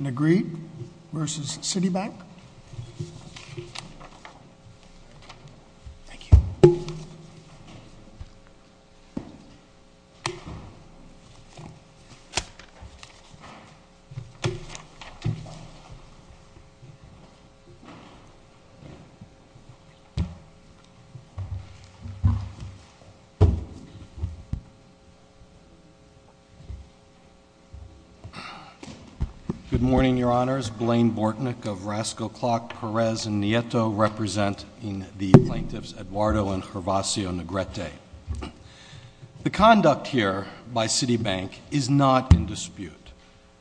Negrete v. Citibank. Good morning, Your Honors. Blaine Bortnick of Rasco Clock, Perez, and Nieto represent the plaintiffs Eduardo and Gervasio Negrete. The conduct here by Citibank is not in dispute.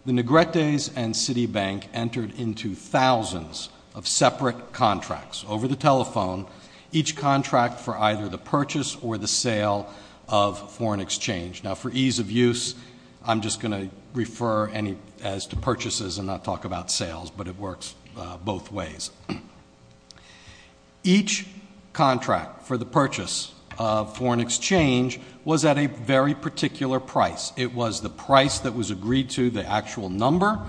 The Negretes and Citibank entered into thousands of separate contracts over the telephone, each contract for either the purchase or the sale of foreign exchange. Now, for ease of use, I'm just going to refer as to purchases and not talk about sales, but it works both ways. Each contract for the purchase of foreign exchange was at a very particular price. It was the price that was agreed to, the actual number,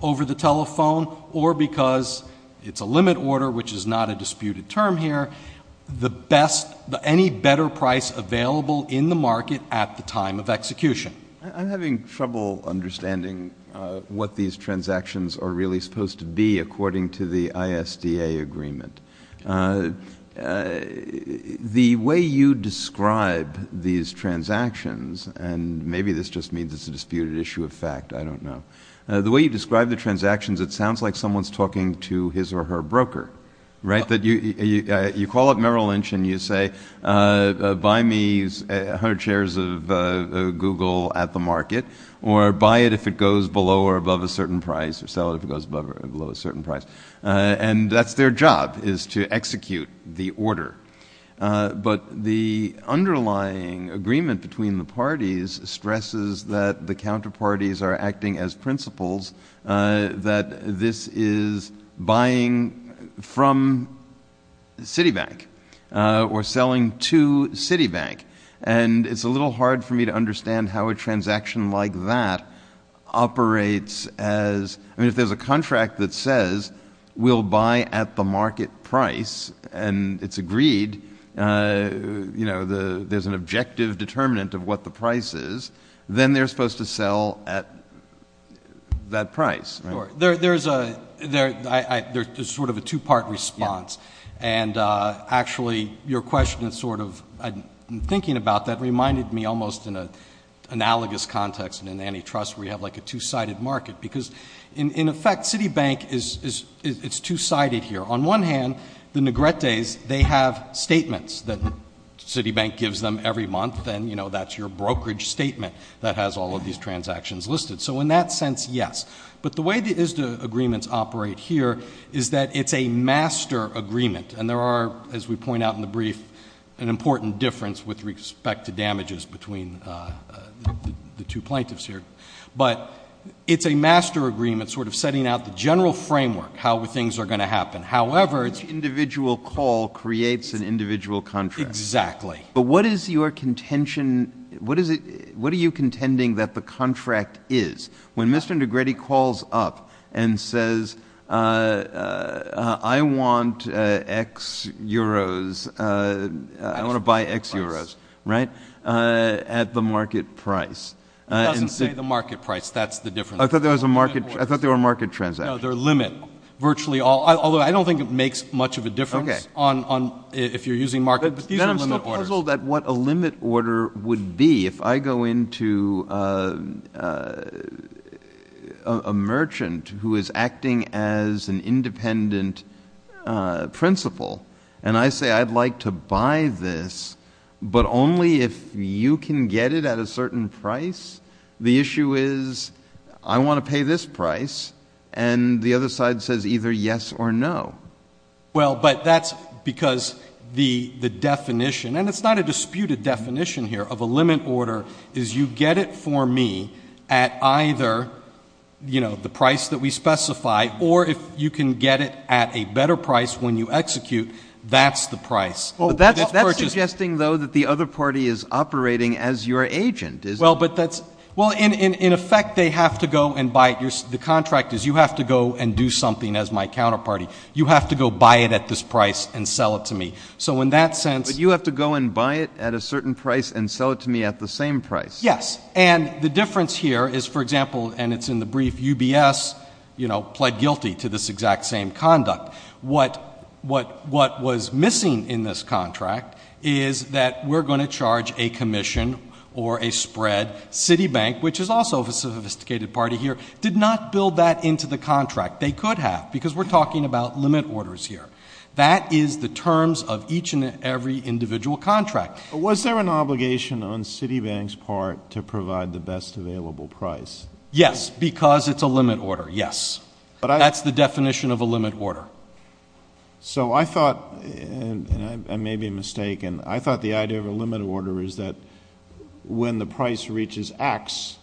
over the telephone, or because it's a limit order, which is not a disputed term here, the best, any better price available in the market at the time of execution. I'm having trouble understanding what these transactions are really supposed to be according to the ISDA agreement. The way you describe these transactions, and maybe this just means it's a disputed issue of fact, I don't know. The way you describe the transactions, it sounds like someone's talking to his or her broker, right? You call up Merrill Lynch and you say, buy me 100 shares of Google at the market, or buy it if it goes below or above a certain price, or sell it if it goes below a certain price. And that's their job, is to execute the order. But the underlying agreement between the parties stresses that the counterparties are acting as principles, that this is buying from Citibank, or selling to Citibank. And it's a little hard for me to understand how a transaction like that operates as, I mean, if there's a contract that says, we'll buy at the market price, and it's agreed, there's an objective determinant of what the price is, then they're supposed to sell at that price, right? There's sort of a two-part response. And actually, your question is sort of, in thinking about that, reminded me almost in an analogous context in antitrust, where you have like a two-sided market. Because in effect, Citibank is two-sided here. On one hand, the Negrettes, they have statements that Citibank gives them every month, and, you know, that's your brokerage statement that has all of these transactions listed. So in that sense, yes. But the way the ISDA agreements operate here is that it's a master agreement. And there are, as we point out in the brief, an important difference with respect to damages between the two plaintiffs here. But it's a master agreement sort of setting out the general framework, how things are going to happen. Exactly. But what is your contention, what is it, what are you contending that the contract is? When Mr. Negrette calls up and says, I want X euros, I want to buy X euros, right, at the market price. It doesn't say the market price. That's the difference. I thought there was a market, I thought there were market transactions. No, they're limit. Virtually all, although I don't think it makes much of a difference if you're using market. Then I'm still puzzled at what a limit order would be if I go into a merchant who is acting as an independent principal, and I say I'd like to buy this, but only if you can get it at a certain price. The issue is I want to pay this price, and the other side says either yes or no. Well, but that's because the definition, and it's not a disputed definition here of a limit order, is you get it for me at either, you know, the price that we specify, or if you can get it at a better price when you execute, that's the price. That's suggesting, though, that the other party is operating as your agent, isn't it? Well, but that's, well, in effect, they have to go and buy it. The contract is you have to go and do something as my counterparty. You have to go buy it at this price and sell it to me. So in that sense — But you have to go and buy it at a certain price and sell it to me at the same price. Yes, and the difference here is, for example, and it's in the brief, UBS, you know, pled guilty to this exact same conduct. What was missing in this contract is that we're going to charge a commission or a spread. Citibank, which is also a sophisticated party here, did not build that into the contract. They could have because we're talking about limit orders here. That is the terms of each and every individual contract. Was there an obligation on Citibank's part to provide the best available price? Yes, because it's a limit order, yes. That's the definition of a limit order. So I thought, and I may be mistaken, I thought the idea of a limit order is that when the price reaches X,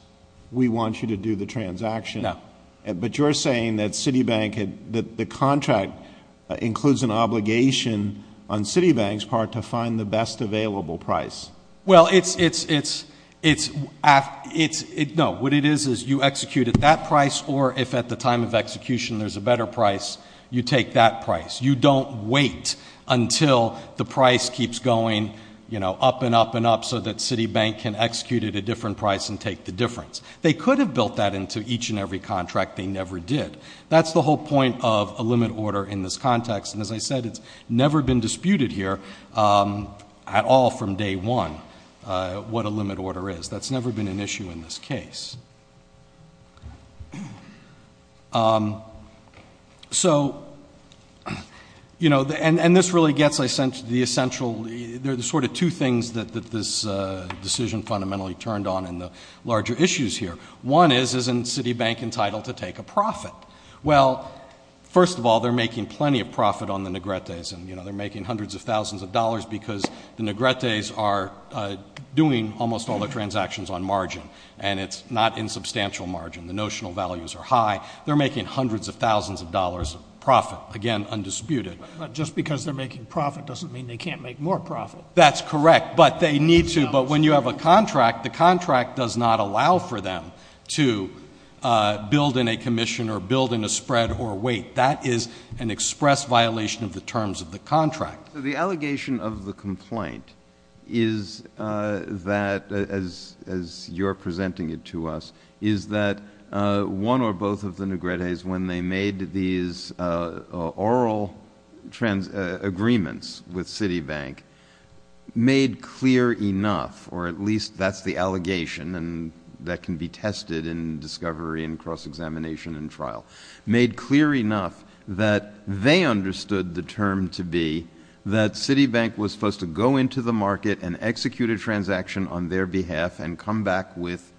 we want you to do the transaction. No. But you're saying that Citibank, that the contract includes an obligation on Citibank's part to find the best available price. Well, it's — no, what it is is you execute at that price, or if at the time of execution there's a better price, you take that price. You don't wait until the price keeps going, you know, up and up and up so that Citibank can execute at a different price and take the difference. They could have built that into each and every contract. They never did. That's the whole point of a limit order in this context. And as I said, it's never been disputed here at all from day one what a limit order is. So, you know, and this really gets the essential — there are sort of two things that this decision fundamentally turned on in the larger issues here. One is, isn't Citibank entitled to take a profit? Well, first of all, they're making plenty of profit on the negretes, and, you know, they're making hundreds of thousands of dollars because the negretes are doing almost all the transactions on margin. And it's not in substantial margin. The notional values are high. They're making hundreds of thousands of dollars of profit, again, undisputed. But just because they're making profit doesn't mean they can't make more profit. That's correct. But they need to. But when you have a contract, the contract does not allow for them to build in a commission or build in a spread or wait. That is an express violation of the terms of the contract. The allegation of the complaint is that, as you're presenting it to us, is that one or both of the negretes, when they made these oral agreements with Citibank, made clear enough, or at least that's the allegation, and that can be tested in discovery and cross-examination and trial, made clear enough that they understood the term to be that Citibank was supposed to go into the market and execute a transaction on their behalf and come back with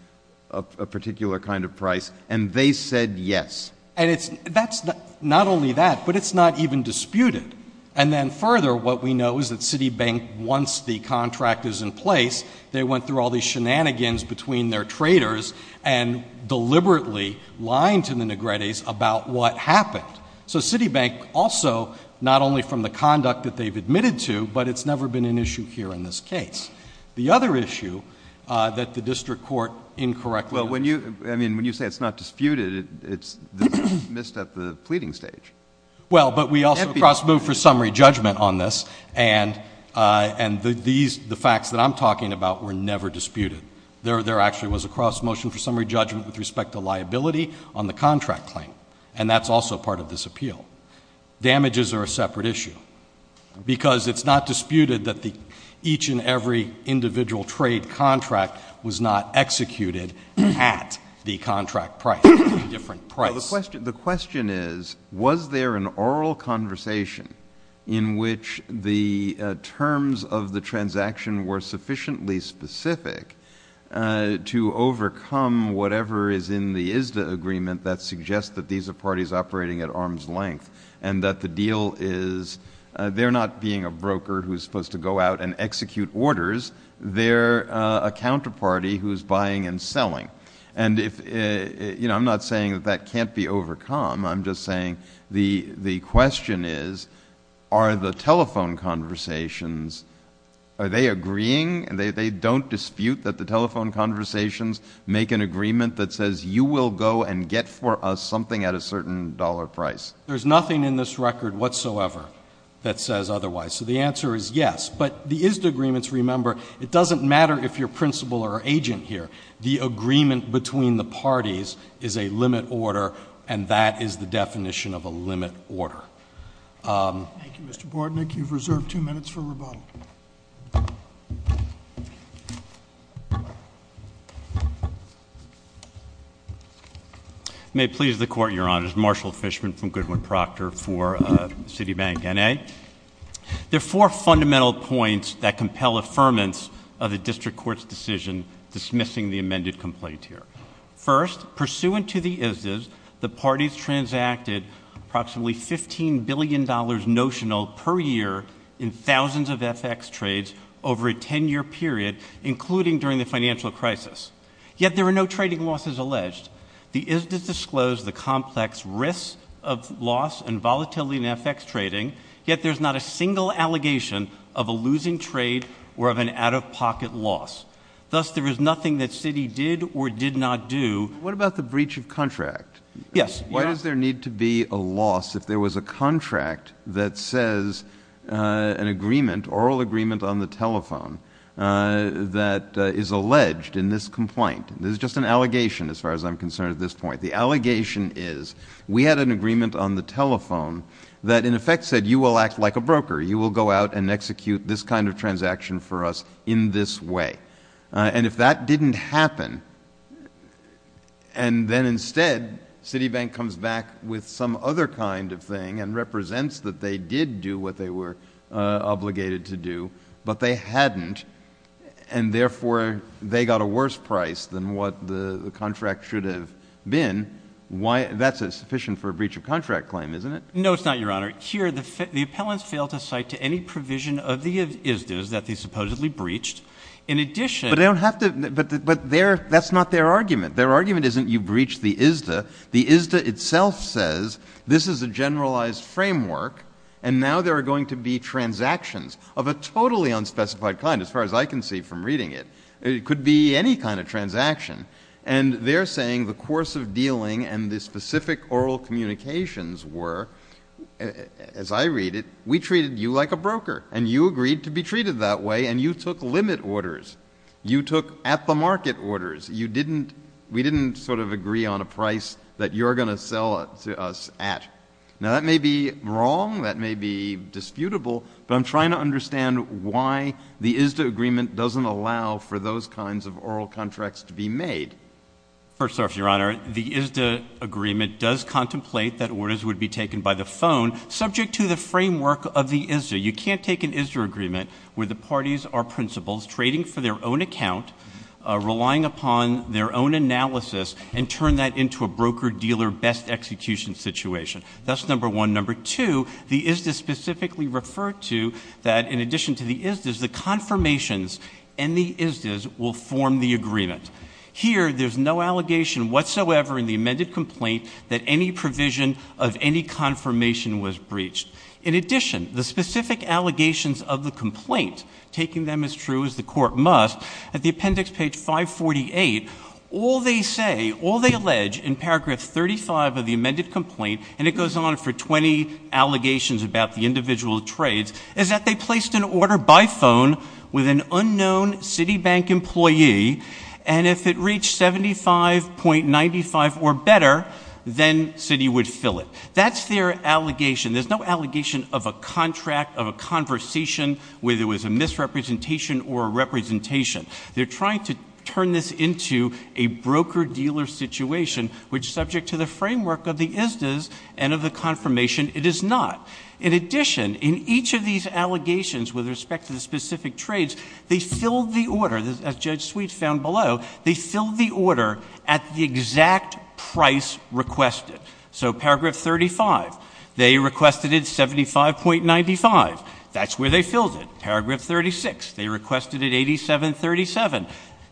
a particular kind of price, and they said yes. And that's not only that, but it's not even disputed. And then further, what we know is that Citibank, once the contract is in place, they went through all these shenanigans between their traders and deliberately lied to the negretes about what happened. So Citibank also, not only from the conduct that they've admitted to, but it's never been an issue here in this case. The other issue that the district court incorrectly— Well, when you—I mean, when you say it's not disputed, it's dismissed at the pleading stage. Well, but we also cross-moved for summary judgment on this, and the facts that I'm talking about were never disputed. There actually was a cross-motion for summary judgment with respect to liability on the contract claim, and that's also part of this appeal. Damages are a separate issue, because it's not disputed that each and every individual trade contract was not executed at the contract price, a different price. The question is, was there an oral conversation in which the terms of the transaction were sufficiently specific to overcome whatever is in the ISDA agreement that suggests that these are parties operating at arm's length and that the deal is they're not being a broker who's supposed to go out and execute orders. They're a counterparty who's buying and selling. And if—you know, I'm not saying that that can't be overcome. I'm just saying the question is, are the telephone conversations—are they agreeing? They don't dispute that the telephone conversations make an agreement that says you will go and get for us something at a certain dollar price. There's nothing in this record whatsoever that says otherwise. So the answer is yes. But the ISDA agreements, remember, it doesn't matter if you're principal or agent here. The agreement between the parties is a limit order, and that is the definition of a limit order. Thank you, Mr. Bordnick. You've reserved two minutes for rebuttal. May it please the Court, Your Honors. Marshall Fishman from Goodwin-Proctor for Citibank N.A. There are four fundamental points that compel affirmance of the district court's decision dismissing the amended complaint here. First, pursuant to the ISDAs, the parties transacted approximately $15 billion notional per year in thousands of FX trades over a 10-year period, including during the financial crisis. Yet there were no trading losses alleged. The ISDAs disclose the complex risks of loss and volatility in FX trading, yet there's not a single allegation of a losing trade or of an out-of-pocket loss. Thus, there is nothing that Citi did or did not do. What about the breach of contract? Yes. Why does there need to be a loss if there was a contract that says an agreement, oral agreement on the telephone, that is alleged in this complaint? This is just an allegation as far as I'm concerned at this point. The allegation is we had an agreement on the telephone that in effect said you will act like a broker. You will go out and execute this kind of transaction for us in this way. And if that didn't happen, and then instead Citi Bank comes back with some other kind of thing and represents that they did do what they were obligated to do, but they hadn't, and therefore they got a worse price than what the contract should have been, that's sufficient for a breach of contract claim, isn't it? No, it's not, Your Honor. Here, the appellants failed to cite to any provision of the ISDAs that they supposedly breached. In addition — But they don't have to — but that's not their argument. Their argument isn't you breached the ISDA. The ISDA itself says this is a generalized framework, and now there are going to be transactions of a totally unspecified kind, as far as I can see from reading it. It could be any kind of transaction. And they're saying the course of dealing and the specific oral communications were, as I read it, we treated you like a broker, and you agreed to be treated that way, and you took limit orders. You took at-the-market orders. You didn't — we didn't sort of agree on a price that you're going to sell us at. Now, that may be wrong. That may be disputable. But I'm trying to understand why the ISDA agreement doesn't allow for those kinds of oral contracts to be made. First off, Your Honor, the ISDA agreement does contemplate that orders would be taken by the phone, subject to the framework of the ISDA. You can't take an ISDA agreement where the parties are principals trading for their own account, relying upon their own analysis, and turn that into a broker-dealer best execution situation. That's number one. Number two, the ISDA specifically referred to that, in addition to the ISDAs, the confirmations in the ISDAs will form the agreement. Here, there's no allegation whatsoever in the amended complaint that any provision of any confirmation was breached. In addition, the specific allegations of the complaint, taking them as true as the Court must, at the appendix, page 548, all they say, all they allege, in paragraph 35 of the amended complaint, and it goes on for 20 allegations about the individual trades, is that they placed an order by phone with an unknown Citibank employee, and if it reached 75.95 or better, then Citi would fill it. That's their allegation. There's no allegation of a contract, of a conversation, whether it was a misrepresentation or a representation. They're trying to turn this into a broker-dealer situation, which, subject to the framework of the ISDAs and of the confirmation, it is not. In addition, in each of these allegations with respect to the specific trades, they filled the order, as Judge Sweet found below, they filled the order at the exact price requested. So paragraph 35, they requested it 75.95. That's where they filled it. Paragraph 36, they requested it 87.37.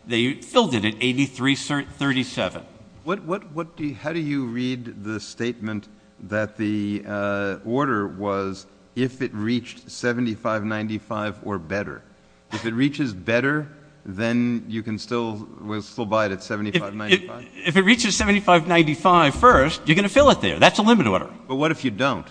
They filled it at 83.37. How do you read the statement that the order was if it reached 75.95 or better? If it reaches better, then you can still buy it at 75.95? If it reaches 75.95 first, you're going to fill it there. That's a limit order. But what if you don't?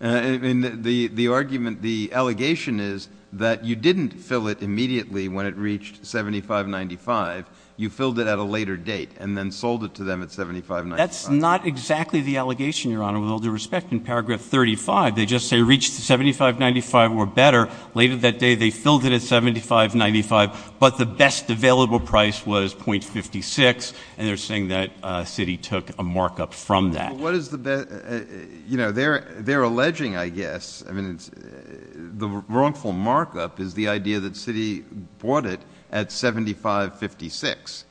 The argument, the allegation is that you didn't fill it immediately when it reached 75.95. You filled it at a later date and then sold it to them at 75.95. That's not exactly the allegation, Your Honor, with all due respect. In paragraph 35, they just say it reached 75.95 or better. Later that day, they filled it at 75.95, but the best available price was 0.56, and they're saying that Citi took a markup from that. Well, what is the best? You know, they're alleging, I guess, I mean, the wrongful markup is the idea that Citi bought it at 75.56.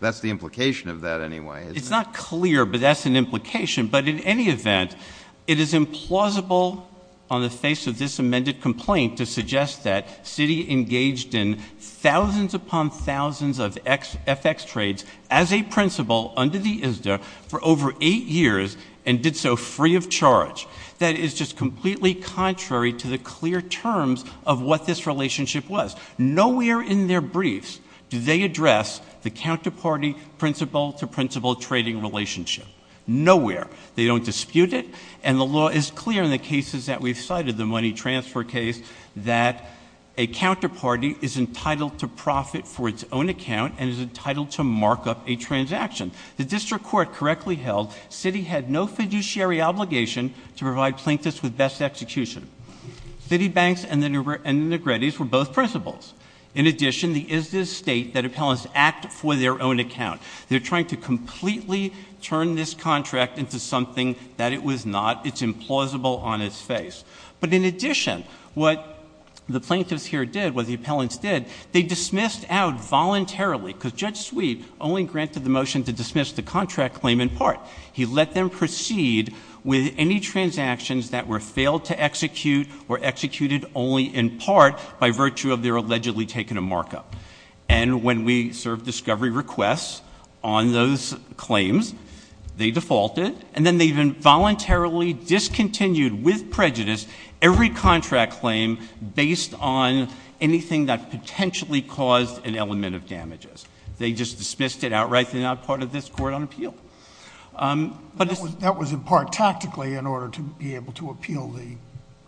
That's the implication of that anyway, isn't it? It's not clear, but that's an implication. But in any event, it is implausible on the face of this amended complaint to suggest that Citi engaged in thousands upon thousands of FX trades as a principal under the ISDA for over eight years and did so free of charge. That is just completely contrary to the clear terms of what this relationship was. Nowhere in their briefs do they address the counterparty principal-to-principal trading relationship. Nowhere. They don't dispute it, and the law is clear in the cases that we've cited, the money transfer case, that a counterparty is entitled to profit for its own account and is entitled to markup a transaction. The district court correctly held Citi had no fiduciary obligation to provide plaintiffs with best execution. Citibanks and the Negretti's were both principals. In addition, the ISDA's state that appellants act for their own account. They're trying to completely turn this contract into something that it was not. It's implausible on its face. But in addition, what the plaintiffs here did, what the appellants did, they dismissed out voluntarily because Judge Sweet only granted the motion to dismiss the contract claim in part. He let them proceed with any transactions that were failed to execute or executed only in part by virtue of their allegedly taking a markup. And when we served discovery requests on those claims, they defaulted, and then they even voluntarily discontinued with prejudice every contract claim based on anything that potentially caused an element of damages. They just dismissed it outright. They're not part of this court on appeal. That was in part tactically in order to be able to appeal the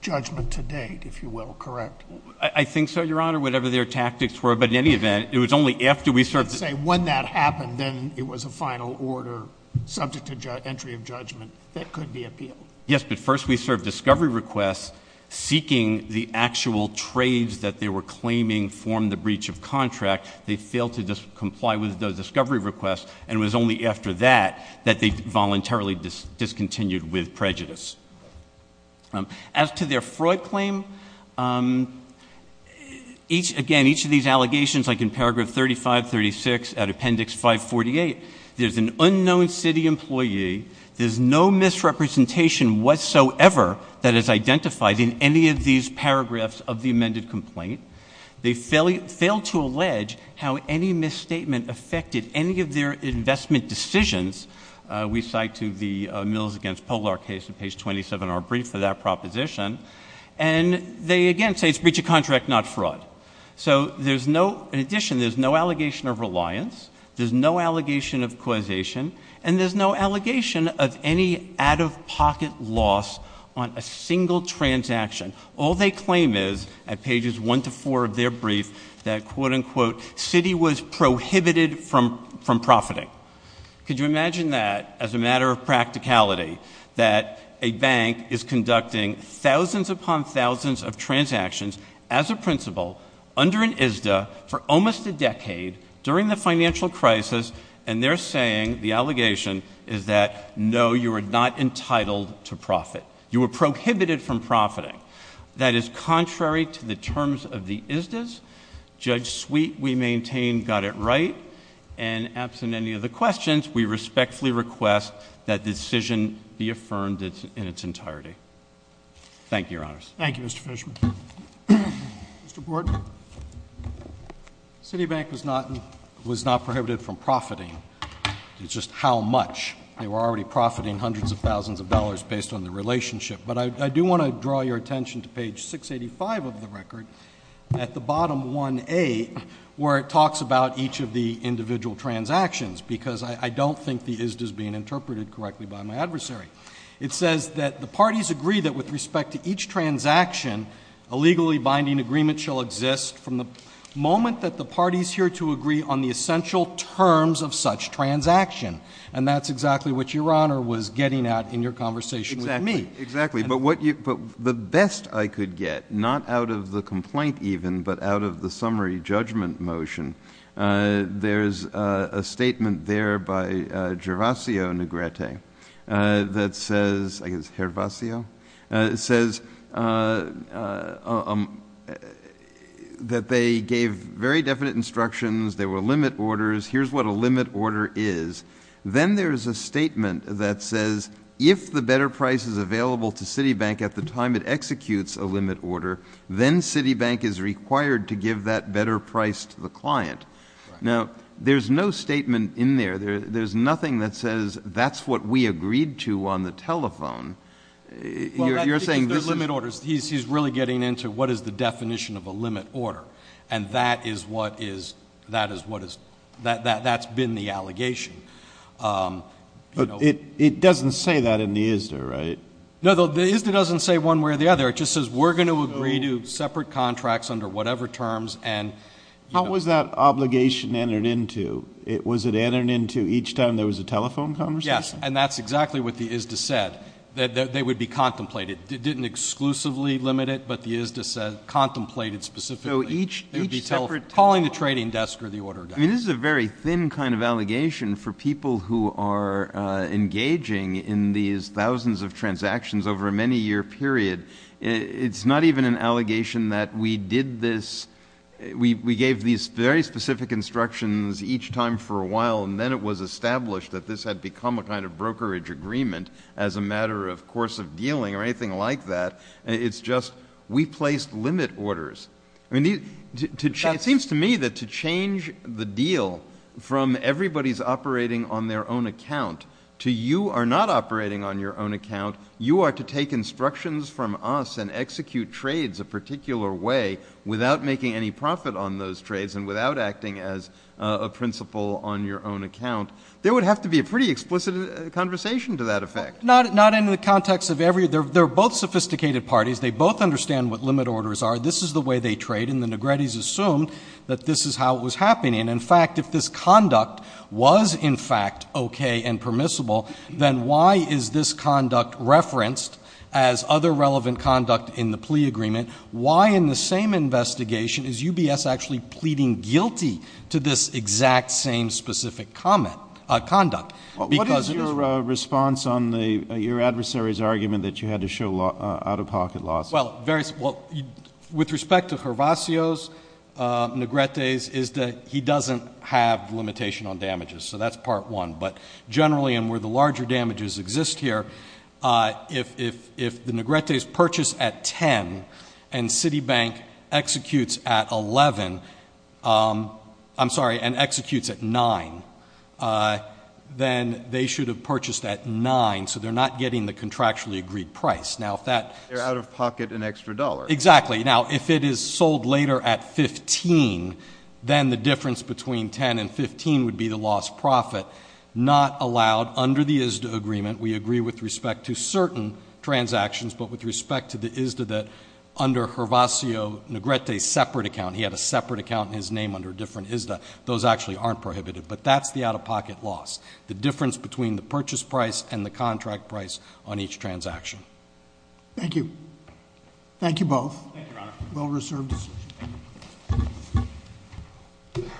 judgment to date, if you will, correct? I think so, Your Honor, whatever their tactics were. But in any event, it was only after we served. Let's say when that happened, then it was a final order subject to entry of judgment that could be appealed. Yes, but first we served discovery requests seeking the actual trades that they were claiming formed the breach of contract. They failed to comply with those discovery requests, and it was only after that that they voluntarily discontinued with prejudice. As to their fraud claim, again, each of these allegations, like in paragraph 35, 36, at appendix 548, there's an unknown city employee. There's no misrepresentation whatsoever that is identified in any of these paragraphs of the amended complaint. They failed to allege how any misstatement affected any of their investment decisions. We cite to the Mills v. Polar case in page 27 of our brief for that proposition. And they again say it's breach of contract, not fraud. So in addition, there's no allegation of reliance. There's no allegation of causation. And there's no allegation of any out-of-pocket loss on a single transaction. All they claim is at pages 1 to 4 of their brief that, quote, unquote, city was prohibited from profiting. Could you imagine that as a matter of practicality, that a bank is conducting thousands upon thousands of transactions as a principal under an ISDA for almost a decade during the financial crisis, and they're saying the allegation is that, no, you are not entitled to profit. You were prohibited from profiting. That is contrary to the terms of the ISDAs. Judge Sweet, we maintain, got it right. And absent any of the questions, we respectfully request that decision be affirmed in its entirety. Thank you, Your Honors. Thank you, Mr. Fishman. Mr. Borden. Citibank was not prohibited from profiting. It's just how much. They were already profiting hundreds of thousands of dollars based on the relationship. But I do want to draw your attention to page 685 of the record. At the bottom, 1A, where it talks about each of the individual transactions, because I don't think the ISDA is being interpreted correctly by my adversary. It says that the parties agree that with respect to each transaction, a legally binding agreement shall exist from the moment that the parties here to agree on the essential terms of such transaction. And that's exactly what Your Honor was getting at in your conversation with me. Exactly. But the best I could get, not out of the complaint even, but out of the summary judgment motion, there's a statement there by Gervasio Negrete that says that they gave very definite instructions. There were limit orders. Here's what a limit order is. Then there's a statement that says, if the better price is available to Citibank at the time it executes a limit order, then Citibank is required to give that better price to the client. Now, there's no statement in there. There's nothing that says that's what we agreed to on the telephone. You're saying this is — Well, that's because they're limit orders. He's really getting into what is the definition of a limit order. And that is what is — that's been the allegation. But it doesn't say that in the ISDA, right? No, the ISDA doesn't say one way or the other. It just says we're going to agree to separate contracts under whatever terms. How was that obligation entered into? Was it entered into each time there was a telephone conversation? Yes, and that's exactly what the ISDA said, that they would be contemplated. It didn't exclusively limit it, but the ISDA said contemplated specifically. So each — Calling the trading desk or the order guy. I mean, this is a very thin kind of allegation for people who are engaging in these thousands of transactions over a many-year period. It's not even an allegation that we did this — we gave these very specific instructions each time for a while, and then it was established that this had become a kind of brokerage agreement as a matter of course of dealing or anything like that. It's just we placed limit orders. I mean, it seems to me that to change the deal from everybody's operating on their own account to you are not operating on your own account, you are to take instructions from us and execute trades a particular way without making any profit on those trades and without acting as a principal on your own account. There would have to be a pretty explicit conversation to that effect. Not in the context of every — they're both sophisticated parties. They both understand what limit orders are. This is the way they trade, and the Negretti's assumed that this is how it was happening. In fact, if this conduct was in fact okay and permissible, then why is this conduct referenced as other relevant conduct in the plea agreement? Why in the same investigation is UBS actually pleading guilty to this exact same specific comment — conduct? What is your response on your adversary's argument that you had to show out-of-pocket losses? Well, with respect to Hervacio's Negretti's is that he doesn't have limitation on damages, so that's part one. But generally and where the larger damages exist here, if the Negretti's purchase at 10 and Citibank executes at 11 — I'm sorry, and executes at 9, then they should have purchased at 9, so they're not getting the contractually agreed price. Now, if that — They're out-of-pocket an extra dollar. Exactly. Now, if it is sold later at 15, then the difference between 10 and 15 would be the lost profit. Not allowed. Under the ISDA agreement, we agree with respect to certain transactions, but with respect to the ISDA that under Hervacio Negretti's separate account — he had a separate account in his name under a different ISDA. Those actually aren't prohibited. But that's the out-of-pocket loss, the difference between the purchase price and the contract price on each transaction. Thank you. Thank you both. Thank you, Your Honor. Well-reserved decision.